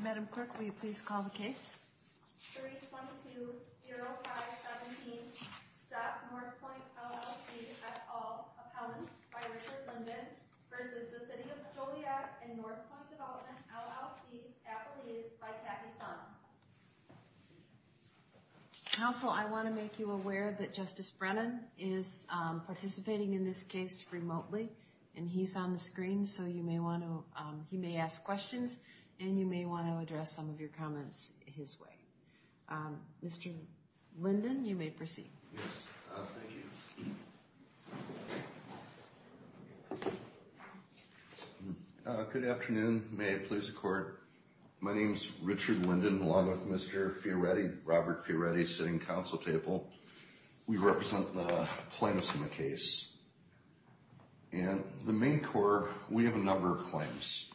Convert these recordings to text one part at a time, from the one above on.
Madam Clerk, will you please call the case? 322-0517 Stop Northpoint, LLC at all appellants by Richard Linden versus the City of Joliet and Northpoint Development, LLC appellees by Kathy Son. Council, I want to make you aware that Justice Brennan is participating in this case remotely, and he's on the screen, so you may want to, he may ask questions, and you may want to address some of your comments his way. Mr. Linden, you may proceed. Yes, thank you. Good afternoon. May it please the Court. My name is Richard Linden, along with Mr. Fioretti, Robert Fioretti, sitting at the Council table. We represent the plaintiffs in the case. And the main core, we have a number of claims.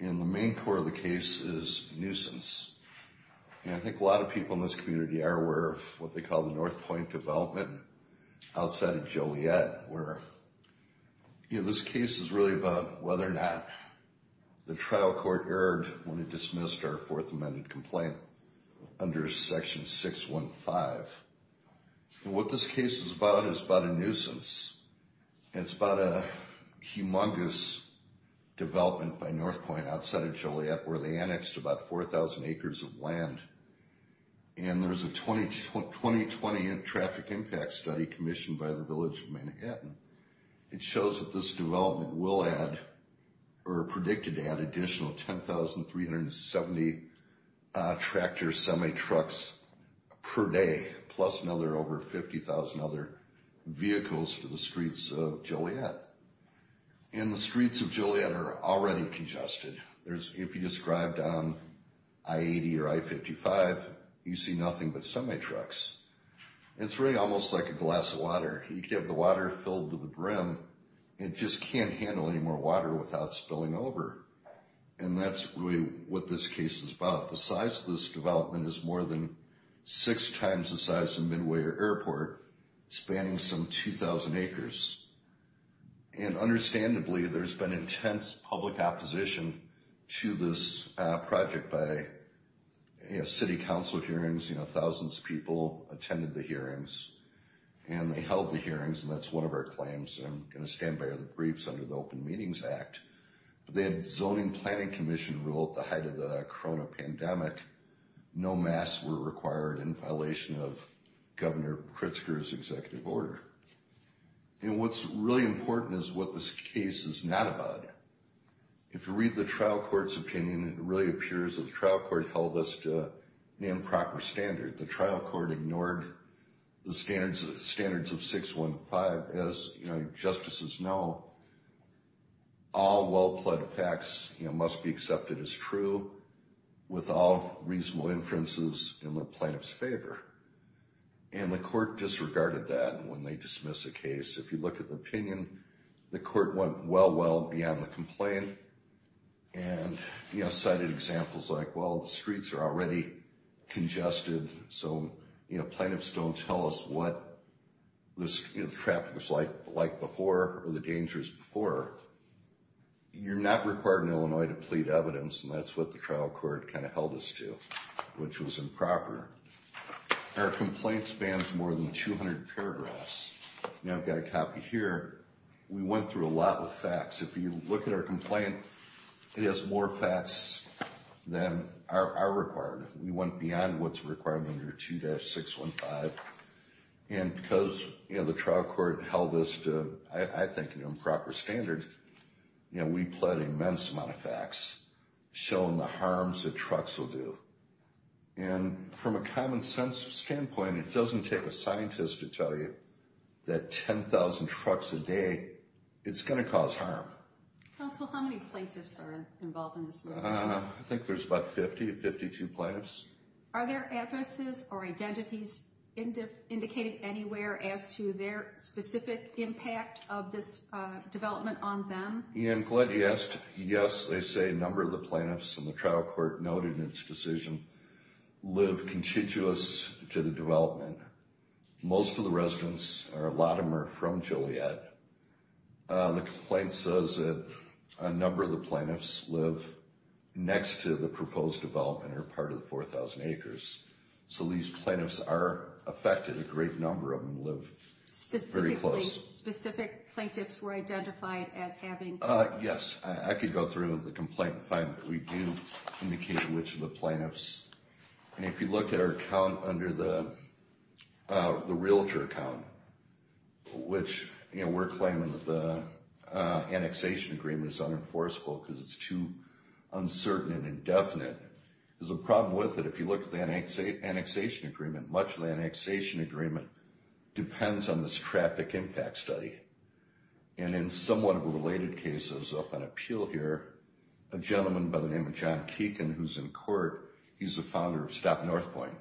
And the main core of the case is nuisance. And I think a lot of people in this community are aware of what they call the Northpoint Development outside of Joliet, where, you know, this case is really about whether or not the trial court erred when it dismissed our Fourth Amendment complaint under Section 615. And what this case is about is about a nuisance. It's about a humongous development by Northpoint outside of Joliet where they annexed about 4,000 acres of land. And there's a 2020 traffic impact study commissioned by the Village of Manhattan. It shows that this development will add, or predicted to add, additional 10,370 tractor semi-trucks per day, plus another over 50,000 other vehicles to the streets of Joliet. And the streets of Joliet are already congested. If you just drive down I-80 or I-55, you see nothing but semi-trucks. It's really almost like a glass of water. You could have the water filled to the brim. It just can't handle any more water without spilling over. And that's really what this case is about. The size of this development is more than six times the size of Midway Airport, spanning some 2,000 acres. And understandably, there's been intense public opposition to this project by city council hearings. You know, thousands of people attended the hearings, and they held the hearings, and that's one of our claims. And I'm going to stand by the briefs under the Open Meetings Act. But they had zoning planning commission rule at the height of the corona pandemic. No masks were required in violation of Governor Pritzker's executive order. And what's really important is what this case is not about. If you read the trial court's opinion, it really appears that the trial court held us to an improper standard. The trial court ignored the standards of 615. As, you know, justices know, all well-pledged facts must be accepted as true with all reasonable inferences in the plaintiff's favor. And the court disregarded that when they dismissed the case. If you look at the opinion, the court went well, well beyond the complaint. And, you know, cited examples like, well, the streets are already congested, so, you know, plaintiffs don't tell us what the traffic was like before or the dangers before. You're not required in Illinois to plead evidence, and that's what the trial court kind of held us to, which was improper. Our complaint spans more than 200 paragraphs. Now I've got a copy here. We went through a lot with facts. If you look at our complaint, it has more facts than are required. We went beyond what's required under 2-615. And because, you know, the trial court held us to, I think, an improper standard, you know, we pled immense amount of facts, showing the harms that trucks will do. And from a common sense standpoint, it doesn't take a scientist to tell you that 10,000 trucks a day, it's going to cause harm. Counsel, how many plaintiffs are involved in this? I think there's about 50, 52 plaintiffs. Are there addresses or identities indicated anywhere as to their specific impact of this development on them? Ian, glad you asked. Yes, they say a number of the plaintiffs, and the trial court noted in its decision, live contiguous to the development. Most of the residents are a lot of them are from Joliet. The complaint says that a number of the plaintiffs live next to the proposed development or part of the 4,000 acres. So these plaintiffs are affected. A great number of them live very close. Are there any specific plaintiffs who are identified as having? Yes, I could go through the complaint and find that we do indicate which of the plaintiffs. And if you look at our account under the Realtor account, which, you know, we're claiming that the annexation agreement is unenforceable because it's too uncertain and indefinite, there's a problem with it. If you look at the annexation agreement, much of the annexation agreement depends on this traffic impact study. And in somewhat of a related case, I was up on appeal here, a gentleman by the name of John Keegan, who's in court, he's the founder of Stop North Point,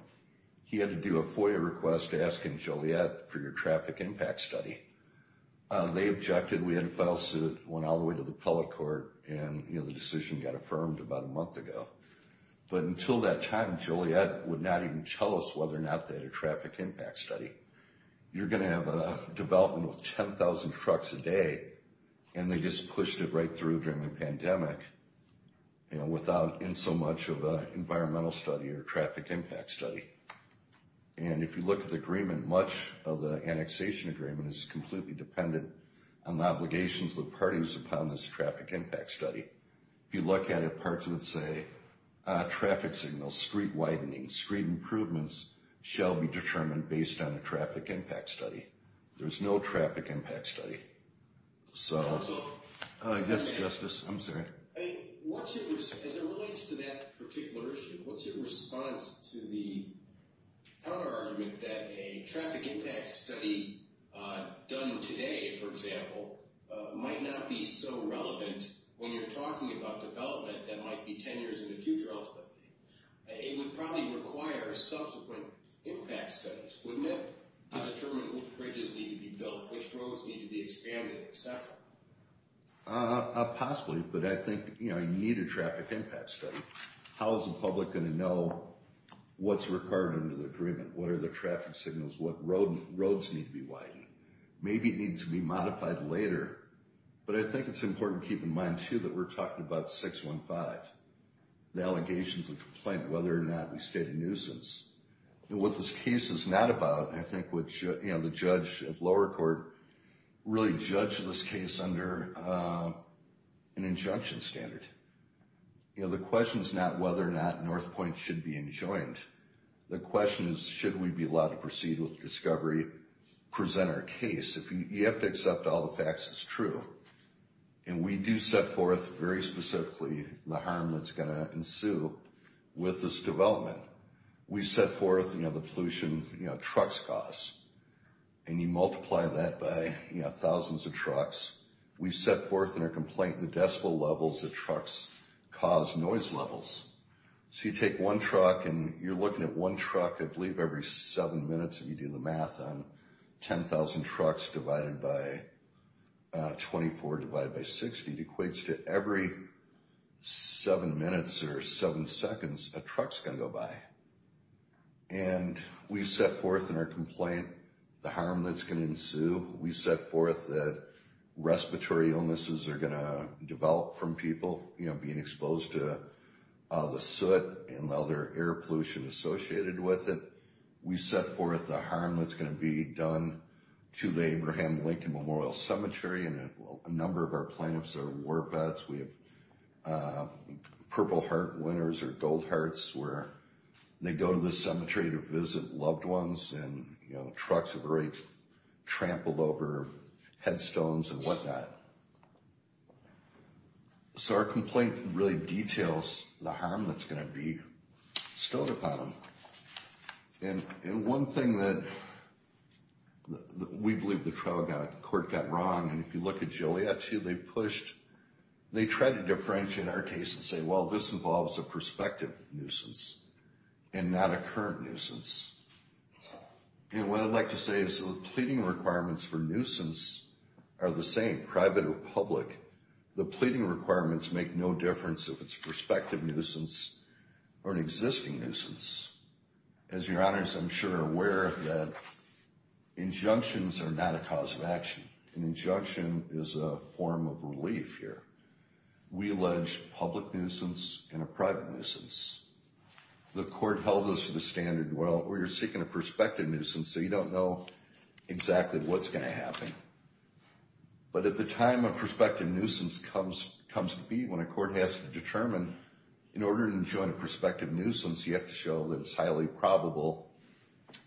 he had to do a FOIA request asking Joliet for your traffic impact study. They objected. We had to file suit, went all the way to the public court, and, you know, the decision got affirmed about a month ago. But until that time, Joliet would not even tell us whether or not they had a traffic impact study. You're going to have a development with 10,000 trucks a day, and they just pushed it right through during the pandemic, you know, without insomuch of an environmental study or traffic impact study. And if you look at the agreement, much of the annexation agreement is completely dependent on the obligations of the parties upon this traffic impact study. If you look at it, parts would say, traffic signals, street widening, street improvements, shall be determined based on a traffic impact study. There's no traffic impact study. So, yes, Justice, I'm sorry. I mean, as it relates to that particular issue, what's your response to the counterargument that a traffic impact study done today, for example, might not be so relevant when you're talking about development that might be 10 years in the future, ultimately? It would probably require subsequent impact studies, wouldn't it? To determine which bridges need to be built, which roads need to be expanded, et cetera. Possibly. But I think, you know, you need a traffic impact study. How is the public going to know what's required under the agreement? What are the traffic signals? What roads need to be widened? Maybe it needs to be modified later. But I think it's important to keep in mind, too, that we're talking about 615. The allegations of complaint, whether or not we state a nuisance. What this case is not about, I think the judge at lower court really judged this case under an injunction standard. You know, the question is not whether or not North Point should be enjoined. The question is, should we be allowed to proceed with discovery, present our case? You have to accept all the facts as true. And we do set forth very specifically the harm that's going to ensue with this development. We set forth, you know, the pollution trucks cause. And you multiply that by, you know, thousands of trucks. We set forth in our complaint the decibel levels that trucks cause noise levels. So you take one truck and you're looking at one truck, I believe, every seven minutes, if you do the math, on 10,000 trucks divided by 24, divided by 60, it equates to every seven minutes or seven seconds a truck's going to go by. And we set forth in our complaint the harm that's going to ensue. We set forth that respiratory illnesses are going to develop from people, you know, being exposed to the soot and other air pollution associated with it. We set forth the harm that's going to be done to the Abraham Lincoln Memorial Cemetery. And a number of our plaintiffs are war vets. We have Purple Heart winners or Gold Hearts where they go to this cemetery to visit loved ones. And, you know, trucks have already trampled over headstones and whatnot. So our complaint really details the harm that's going to be stowed upon them. And one thing that we believe the trial court got wrong, and if you look at Joliet too, they pushed, they tried to differentiate our case and say, well, this involves a prospective nuisance and not a current nuisance. And what I'd like to say is the pleading requirements for nuisance are the same, private or public. The pleading requirements make no difference if it's a prospective nuisance or an existing nuisance. As your honors, I'm sure are aware of that. Injunctions are not a cause of action. An injunction is a form of relief here. We allege public nuisance and a private nuisance. The court held us to the standard, well, you're seeking a prospective nuisance, so you don't know exactly what's going to happen. But at the time a prospective nuisance comes to be, when a court has to determine, in order to enjoin a prospective nuisance, you have to show that it's highly probable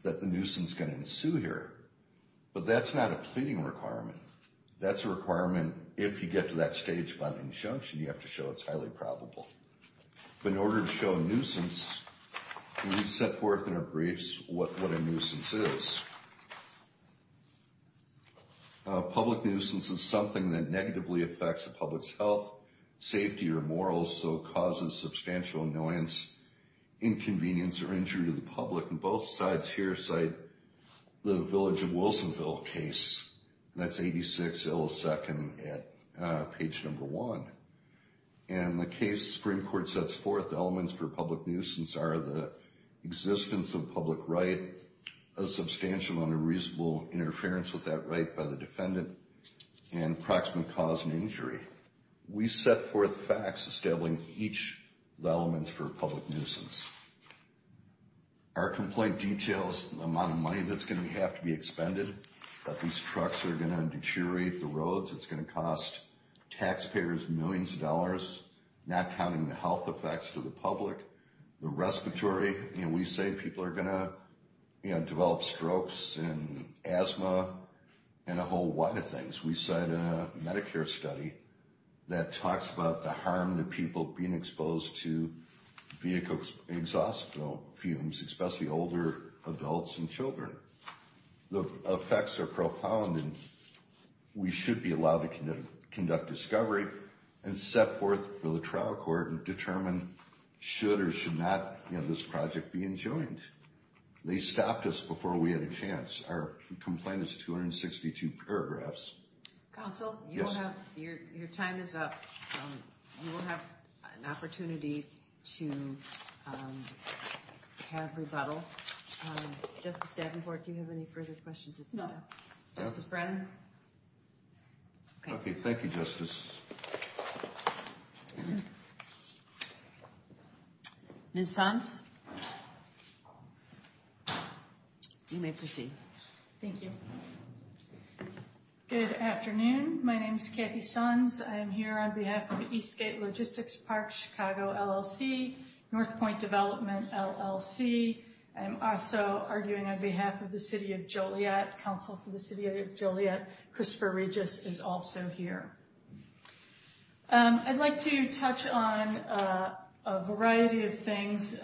that the nuisance is going to ensue here. But that's not a pleading requirement. That's a requirement if you get to that stage by an injunction, you have to show it's highly probable. But in order to show a nuisance, we set forth in our briefs what a nuisance is. A public nuisance is something that negatively affects the public's health, safety, or morals, so it causes substantial annoyance, inconvenience, or injury to the public. And both sides here cite the Village of Wilsonville case, and that's 86 Ill Second at page number one. And in the case the Supreme Court sets forth, the elements for a public nuisance are the existence of a public right, a substantial amount of reasonable interference with that right by the defendant, and approximate cause and injury. We set forth facts establishing each of the elements for a public nuisance. Our complaint details the amount of money that's going to have to be expended, that these trucks are going to deteriorate the roads, it's going to cost taxpayers millions of dollars, not counting the health effects to the public, the respiratory. We say people are going to develop strokes and asthma and a whole lot of things. We cite a Medicare study that talks about the harm to people being exposed to vehicle exhaust fumes, especially older adults and children. The effects are profound and we should be allowed to conduct discovery and set forth for the trial court and determine should or should not this project be enjoined. They stopped us before we had a chance. Our complaint is 262 paragraphs. Counsel, your time is up. You will have an opportunity to have rebuttal. Justice Davenport, do you have any further questions? No. Justice Bratton? Okay, thank you, Justice. Ms. Sons? You may proceed. Thank you. Good afternoon. My name is Kathy Sons. I am here on behalf of Eastgate Logistics Park, Chicago, LLC, North Point Development, LLC. I am also arguing on behalf of the City of Joliet. Counsel for the City of Joliet, Christopher Regis, is also here. I'd like to touch on a variety of things,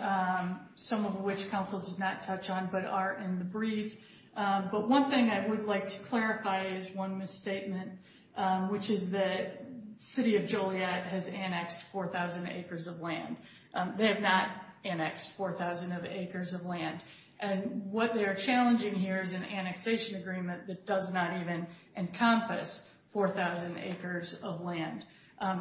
some of which counsel did not touch on but are in the brief. But one thing I would like to clarify is one misstatement, which is that City of Joliet has annexed 4,000 acres of land. They have not annexed 4,000 acres of land. And what they are challenging here is an annexation agreement that does not even encompass 4,000 acres of land.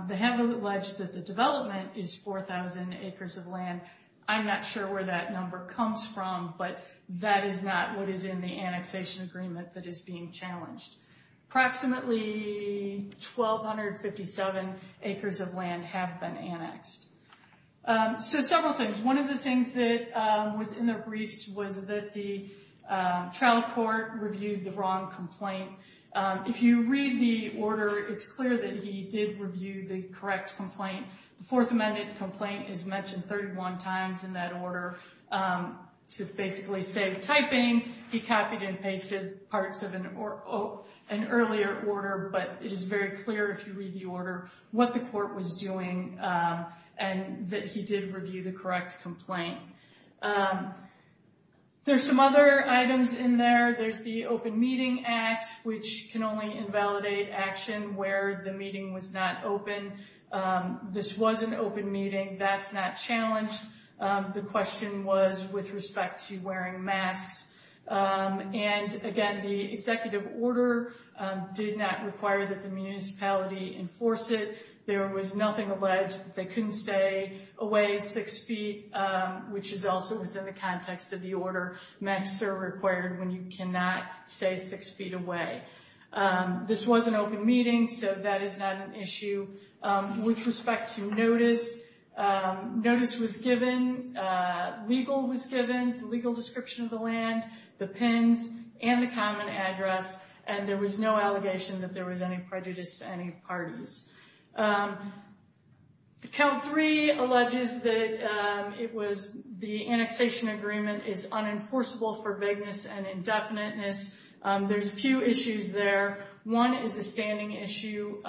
They have alleged that the development is 4,000 acres of land. I'm not sure where that number comes from, but that is not what is in the annexation agreement that is being challenged. Approximately 1,257 acres of land have been annexed. So several things. One of the things that was in the briefs was that the trial court reviewed the wrong complaint. If you read the order, it's clear that he did review the correct complaint. The Fourth Amendment complaint is mentioned 31 times in that order to basically save typing. He copied and pasted parts of an earlier order. But it is very clear, if you read the order, what the court was doing and that he did review the correct complaint. There's some other items in there. There's the Open Meeting Act, which can only invalidate action where the meeting was not open. This was an open meeting. That's not challenged. The question was with respect to wearing masks. And again, the executive order did not require that the municipality enforce it. There was nothing alleged. They couldn't stay away six feet, which is also within the context of the order. Masks are required when you cannot stay six feet away. This was an open meeting, so that is not an issue. With respect to notice, notice was given. Legal was given, the legal description of the land, the pins, and the common address. And there was no allegation that there was any prejudice to any parties. Count 3 alleges that the annexation agreement is unenforceable for vagueness and indefiniteness. There's a few issues there. One is a standing issue.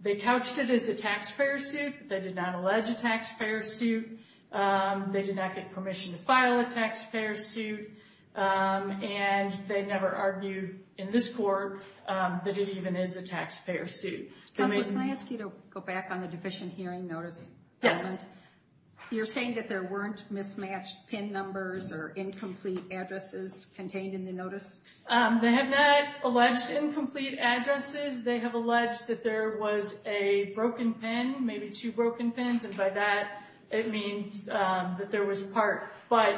They couched it as a taxpayer suit. They did not allege a taxpayer suit. They did not get permission to file a taxpayer suit. And they never argued in this court that it even is a taxpayer suit. Counselor, can I ask you to go back on the deficient hearing notice? Yes. You're saying that there weren't mismatched pin numbers or incomplete addresses contained in the notice? They have not alleged incomplete addresses. They have alleged that there was a broken pin, maybe two broken pins. And by that, it means that there was part. But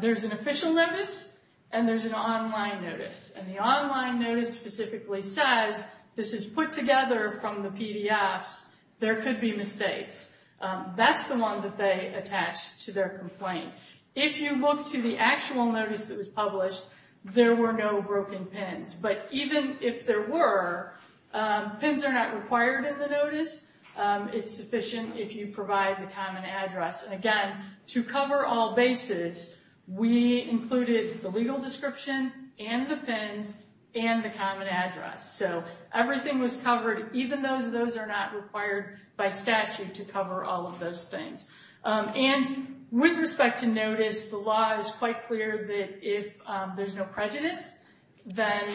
there's an official notice and there's an online notice. And the online notice specifically says this is put together from the PDFs. There could be mistakes. That's the one that they attached to their complaint. If you look to the actual notice that was published, there were no broken pins. But even if there were, pins are not required in the notice. It's sufficient if you provide the common address. And again, to cover all bases, we included the legal description and the pins and the common address. So everything was covered, even those that are not required by statute to cover all of those things. And with respect to notice, the law is quite clear that if there's no prejudice, then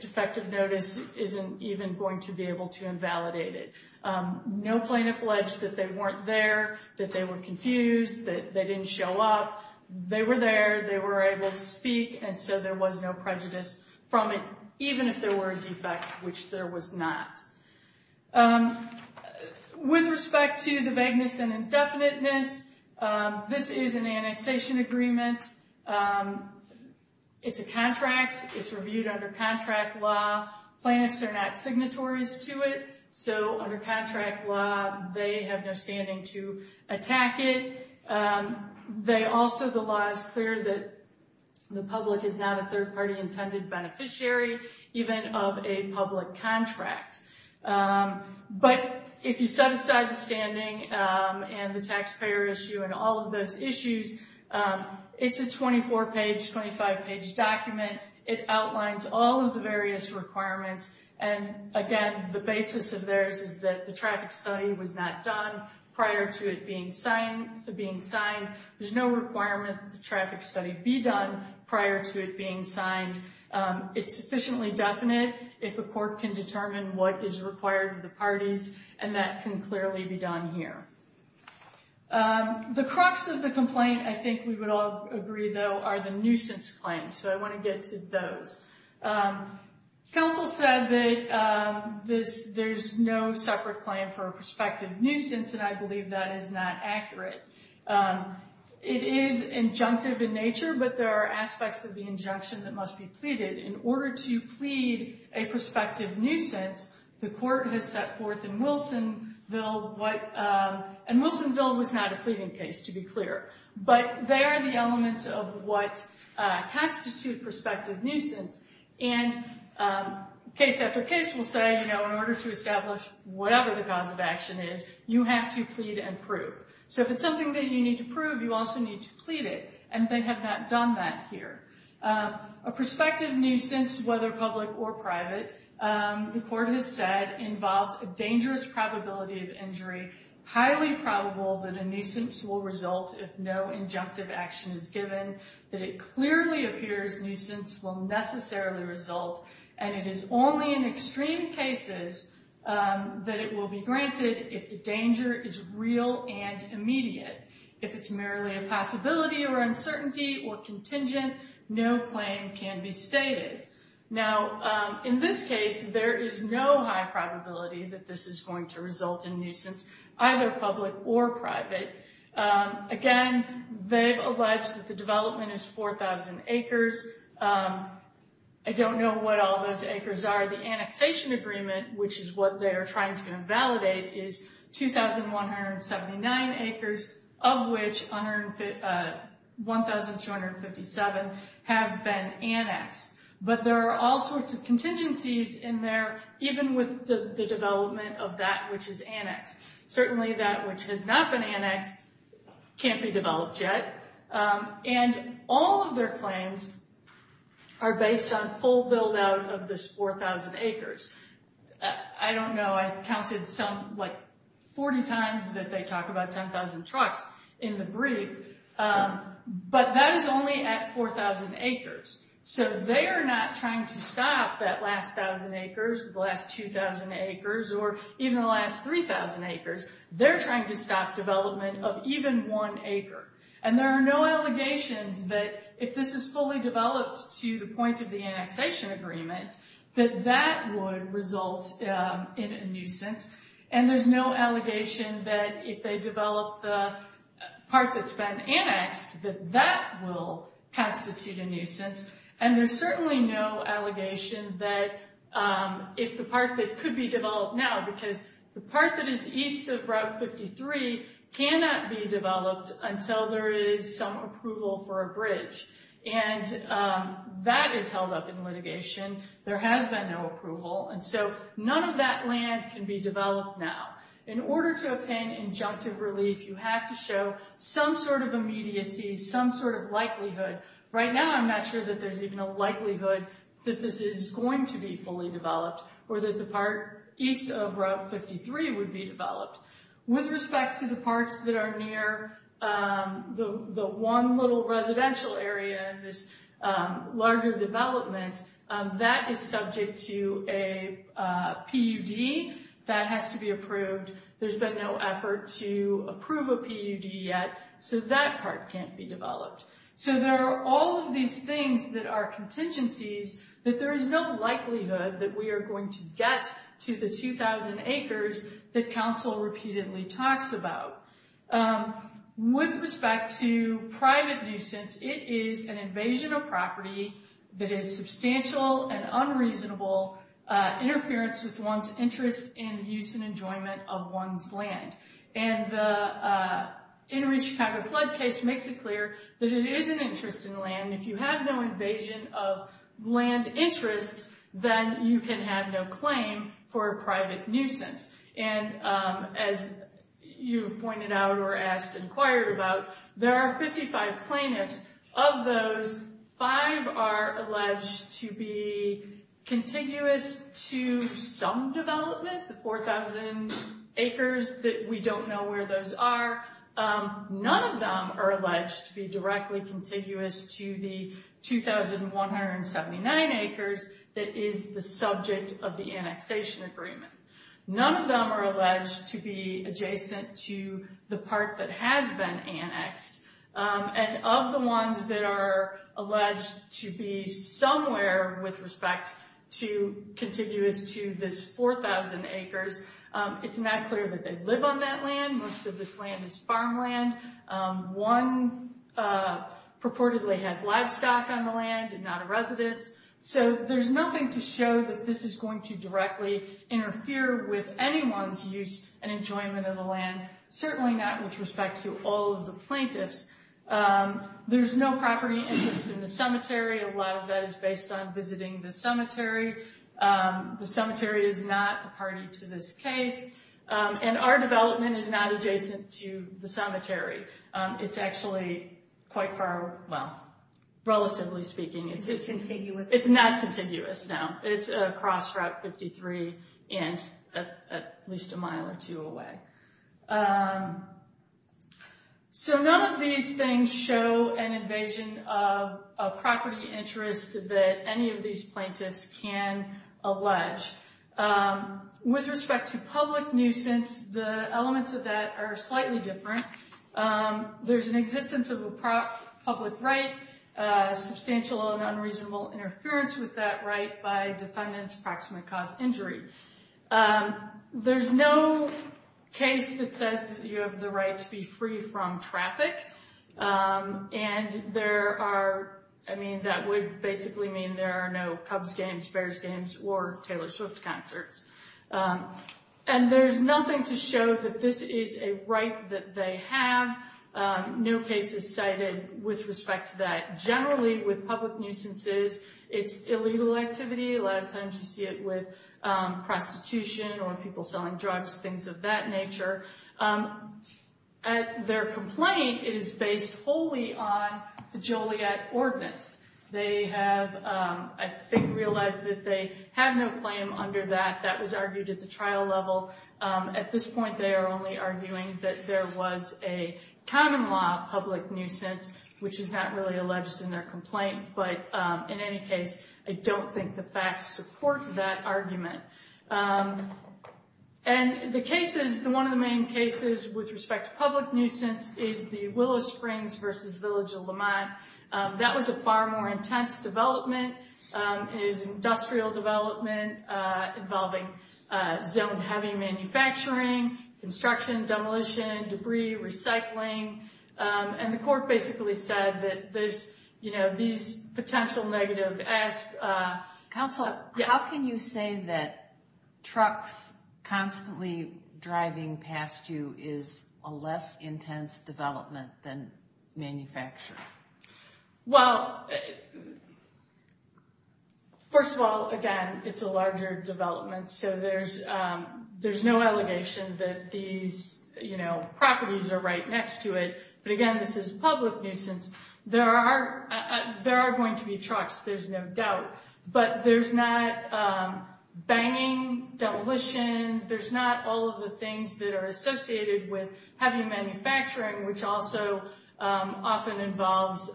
defective notice isn't even going to be able to invalidate it. No plaintiff alleged that they weren't there, that they were confused, that they didn't show up. They were there. They were able to speak. And so there was no prejudice from it, even if there were a defect, which there was not. With respect to the vagueness and indefiniteness, this is an annexation agreement. It's a contract. It's reviewed under contract law. Plaintiffs are not signatories to it. So under contract law, they have no standing to attack it. Also, the law is clear that the public is not a third-party intended beneficiary, even of a public contract. But if you set aside the standing and the taxpayer issue and all of those issues, it's a 24-page, 25-page document. It outlines all of the various requirements. And again, the basis of theirs is that the traffic study was not done prior to it being signed. There's no requirement that the traffic study be done prior to it being signed. It's sufficiently definite if a court can determine what is required of the parties, and that can clearly be done here. The crux of the complaint, I think we would all agree, though, are the nuisance claims. So I want to get to those. Counsel said that there's no separate claim for a prospective nuisance, and I believe that is not accurate. It is injunctive in nature, but there are aspects of the injunction that must be pleaded. In order to plead a prospective nuisance, the court has set forth in Wilsonville, and Wilsonville was not a pleading case, to be clear. But they are the elements of what constitute prospective nuisance. And case after case will say, you know, in order to establish whatever the cause of action is, you have to plead and prove. So if it's something that you need to prove, you also need to plead it, and they have not done that here. A prospective nuisance, whether public or private, the court has said involves a dangerous probability of injury, highly probable that a nuisance will result if no injunctive action is given, that it clearly appears nuisance will necessarily result, and it is only in extreme cases that it will be granted if the danger is real and immediate. If it's merely a possibility or uncertainty or contingent, no claim can be stated. Now, in this case, there is no high probability that this is going to result in nuisance, either public or private. Again, they've alleged that the development is 4,000 acres. I don't know what all those acres are. The annexation agreement, which is what they are trying to invalidate, is 2,179 acres, of which 1,257 have been annexed. But there are all sorts of contingencies in there, even with the development of that which is annexed. Certainly, that which has not been annexed can't be developed yet. And all of their claims are based on full build-out of this 4,000 acres. I don't know, I've counted some 40 times that they talk about 10,000 trucks in the brief, but that is only at 4,000 acres. So they are not trying to stop that last 1,000 acres, the last 2,000 acres, or even the last 3,000 acres. They're trying to stop development of even one acre. And there are no allegations that if this is fully developed to the point of the annexation agreement, that that would result in a nuisance. And there's no allegation that if they develop the part that's been annexed, that that will constitute a nuisance. And there's certainly no allegation that if the part that could be developed now, because the part that is east of Route 53 cannot be developed until there is some approval for a bridge. And that is held up in litigation. There has been no approval. And so none of that land can be developed now. In order to obtain injunctive relief, you have to show some sort of immediacy, some sort of likelihood. Right now, I'm not sure that there's even a likelihood that this is going to be fully developed, or that the part east of Route 53 would be developed. With respect to the parts that are near the one little residential area in this larger development, that is subject to a PUD that has to be approved. There's been no effort to approve a PUD yet, so that part can't be developed. So there are all of these things that are contingencies that there is no likelihood that we are going to get to the 2,000 acres that Council repeatedly talks about. With respect to private nuisance, it is an invasion of property that is substantial and unreasonable interference with one's interest in the use and enjoyment of one's land. And the Enriched Capital Flood Case makes it clear that it is an interest in land. If you have no invasion of land interests, then you can have no claim for a private nuisance. And as you pointed out or asked, inquired about, there are 55 plaintiffs. Of those, five are alleged to be contiguous to some development. The 4,000 acres, we don't know where those are. None of them are alleged to be directly contiguous to the 2,179 acres that is the subject of the annexation agreement. None of them are alleged to be adjacent to the part that has been annexed. And of the ones that are alleged to be somewhere with respect to contiguous to this 4,000 acres, it's not clear that they live on that land. Most of this land is farmland. One purportedly has livestock on the land and not a residence. So there's nothing to show that this is going to directly interfere with anyone's use and enjoyment of the land. Certainly not with respect to all of the plaintiffs. There's no property interest in the cemetery. A lot of that is based on visiting the cemetery. The cemetery is not a party to this case. And our development is not adjacent to the cemetery. It's actually quite far, well, relatively speaking, it's not contiguous. It's a cross route 53 inch, at least a mile or two away. So none of these things show an invasion of property interest that any of these plaintiffs can allege. With respect to public nuisance, the elements of that are slightly different. There's an existence of a public right, substantial and unreasonable interference with that right by defendant's approximate cause injury. There's no case that says you have the right to be free from traffic. And there are, I mean, that would basically mean there are no Cubs games, Bears games or Taylor Swift concerts. And there's nothing to show that this is a right that they have. No case is cited with respect to that. Generally with public nuisances, it's illegal activity. A lot of times you see it with prostitution or people selling drugs, things of that nature. Their complaint is based wholly on the Joliet Ordinance. They have, I think, realized that they have no claim under that. That was argued at the trial level. At this point, they are only arguing that there was a common law public nuisance, which is not really alleged in their complaint. But in any case, I don't think the facts support that argument. And the cases, one of the main cases with respect to public nuisance is the Willow Springs versus Village of Lamont. That was a far more intense development. It was an industrial development involving zone-heavy manufacturing, construction, demolition, debris, recycling. And the court basically said that there's, you know, these potential negative aspects. Counsel, how can you say that trucks constantly driving past you is a less intense development than manufacturing? Well, first of all, again, it's a larger development. So there's no allegation that these, you know, properties are right next to it. But again, this is public nuisance. There are going to be trucks, there's no doubt. But there's not banging, demolition. There's not all of the things that are associated with heavy manufacturing, which also often involves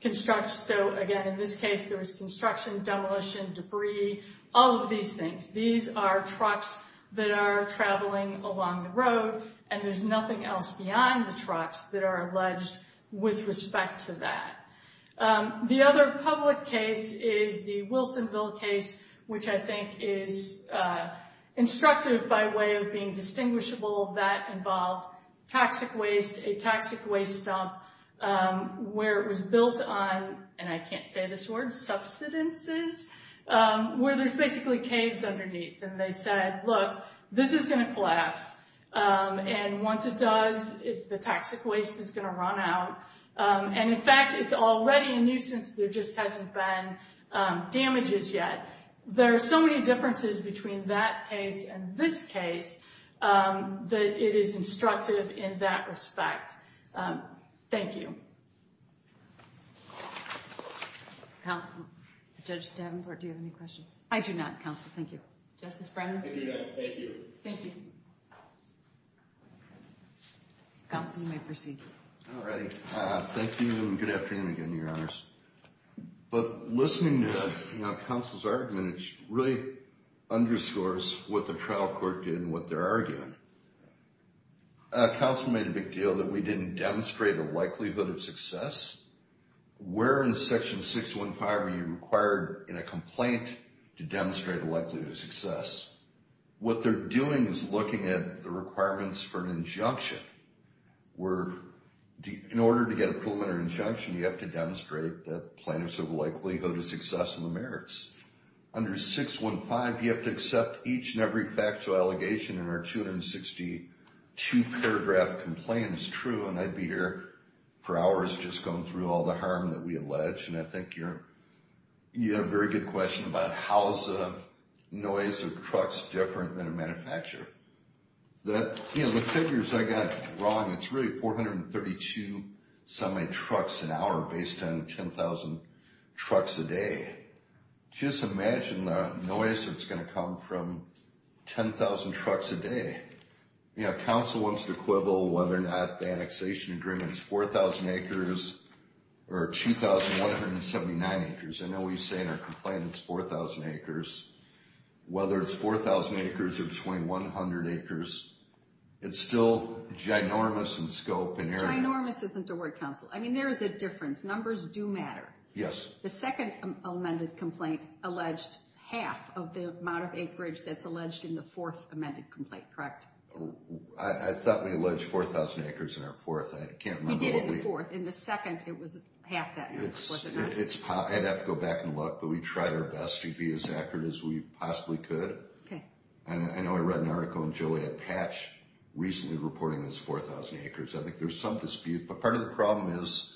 construction. So again, in this case, there was construction, demolition, debris, all of these things. These are trucks that are traveling along the road. And there's nothing else beyond the trucks that are alleged with respect to that. The other public case is the Wilsonville case, which I think is instructive by way of being distinguishable. That involved toxic waste, a toxic waste dump, where it was built on, and I can't say this word, subsistences, where there's basically caves underneath. And they said, look, this is going to collapse. And once it does, the toxic waste is going to run out. And in fact, it's already a nuisance. There just hasn't been damages yet. There are so many differences between that case and this case that it is instructive in that respect. Thank you. Judge Davenport, do you have any questions? I do not, counsel. Thank you. Justice Brennan? I do not. Thank you. Thank you. Counsel, you may proceed. All right. Thank you, and good afternoon again, Your Honors. But listening to counsel's argument, it really underscores what the trial court did and what they're arguing. Counsel made a big deal that we didn't demonstrate the likelihood of success. Where in Section 615 are you required in a complaint to demonstrate the likelihood of success? What they're doing is looking at the requirements for an injunction. In order to get approval in an injunction, you have to demonstrate that plaintiffs have likelihood of success in the merits. Under 615, you have to accept each and every factual allegation in our 262-paragraph complaint is true. And I'd be here for hours just going through all the harm that we allege. I think you have a very good question about how is the noise of trucks different than a manufacturer. The figures I got wrong, it's really 432 semi-trucks an hour based on 10,000 trucks a day. Just imagine the noise that's going to come from 10,000 trucks a day. Counsel wants to quibble whether or not the annexation agreement is 4,000 acres or 2,179 acres. I know we say in our complaint it's 4,000 acres. Whether it's 4,000 acres or between 100 acres, it's still ginormous in scope and area. Ginormous isn't the word, counsel. I mean, there is a difference. Numbers do matter. Yes. The second amended complaint alleged half of the amount of acreage that's alleged in the fourth amended complaint, correct? I thought we alleged 4,000 acres in our fourth. I can't remember. We did it in the fourth. In the second, it was half that. I'd have to go back and look, but we tried our best to be as accurate as we possibly could. Okay. And I know I read an article in Joliet Patch recently reporting this 4,000 acres. I think there's some dispute, but part of the problem is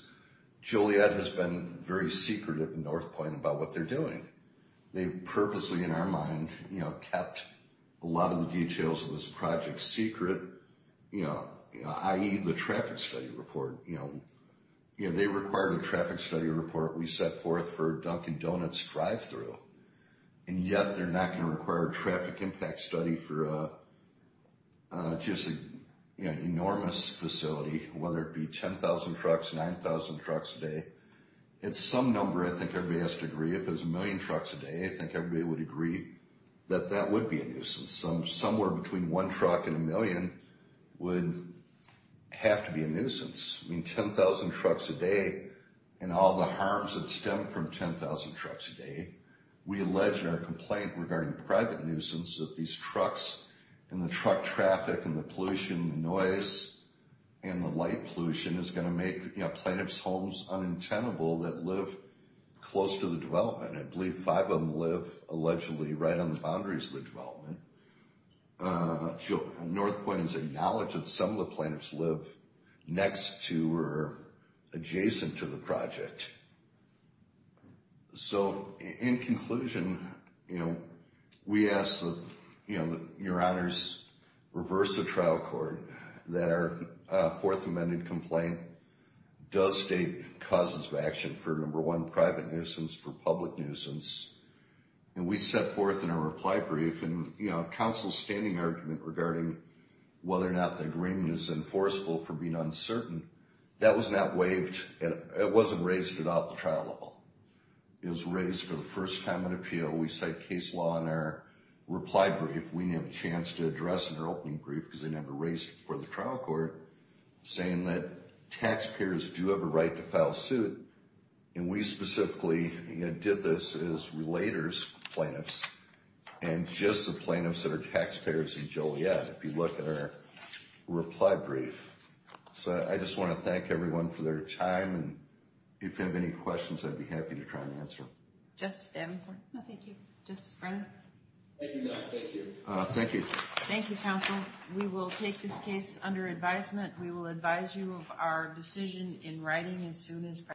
Joliet has been very secretive in North Point about what they're doing. They purposely, in our mind, kept a lot of the details of this project secret, i.e. the traffic study report. They required a traffic study report we set forth for Dunkin' Donuts drive-through, and yet they're not going to require a traffic impact study for just an enormous facility, whether it be 10,000 trucks, 9,000 trucks a day. It's some number I think everybody has to agree. If it was a million trucks a day, I think everybody would agree that that would be a nuisance. Somewhere between one truck and a million would have to be a nuisance. I mean, 10,000 trucks a day and all the harms that stem from 10,000 trucks a day. We allege in our complaint regarding private nuisance that these trucks and the truck traffic and the pollution and noise and the light pollution is going to make plaintiff's homes unintentable that live close to the development. I believe five of them live allegedly right on the boundaries of the development. North Point has acknowledged that some of the plaintiffs live next to or adjacent to the project. So, in conclusion, we ask that your honors reverse the trial court that our Fourth Amendment complaint does state causes of action for, number one, private nuisance, for public nuisance. And we set forth in our reply brief, and counsel's standing argument regarding whether or not the agreement is enforceable for being uncertain, that was not waived, it wasn't raised at all at the trial level. It was raised for the first time in appeal. We cite case law in our reply brief. We didn't have a chance to address in our opening brief because they never raised it before the trial court, saying that taxpayers do have a right to file suit. And we specifically did this as relators, plaintiffs, and just the plaintiffs that are taxpayers in Joliet. If you look at our reply brief. So, I just want to thank everyone for their time. If you have any questions, I'd be happy to try and answer them. Justice Davenport? No, thank you. Justice Brennan? Thank you, Your Honor. Thank you. Thank you. Thank you, counsel. We will take this case under advisement. We will advise you of our decision in writing as soon as possible.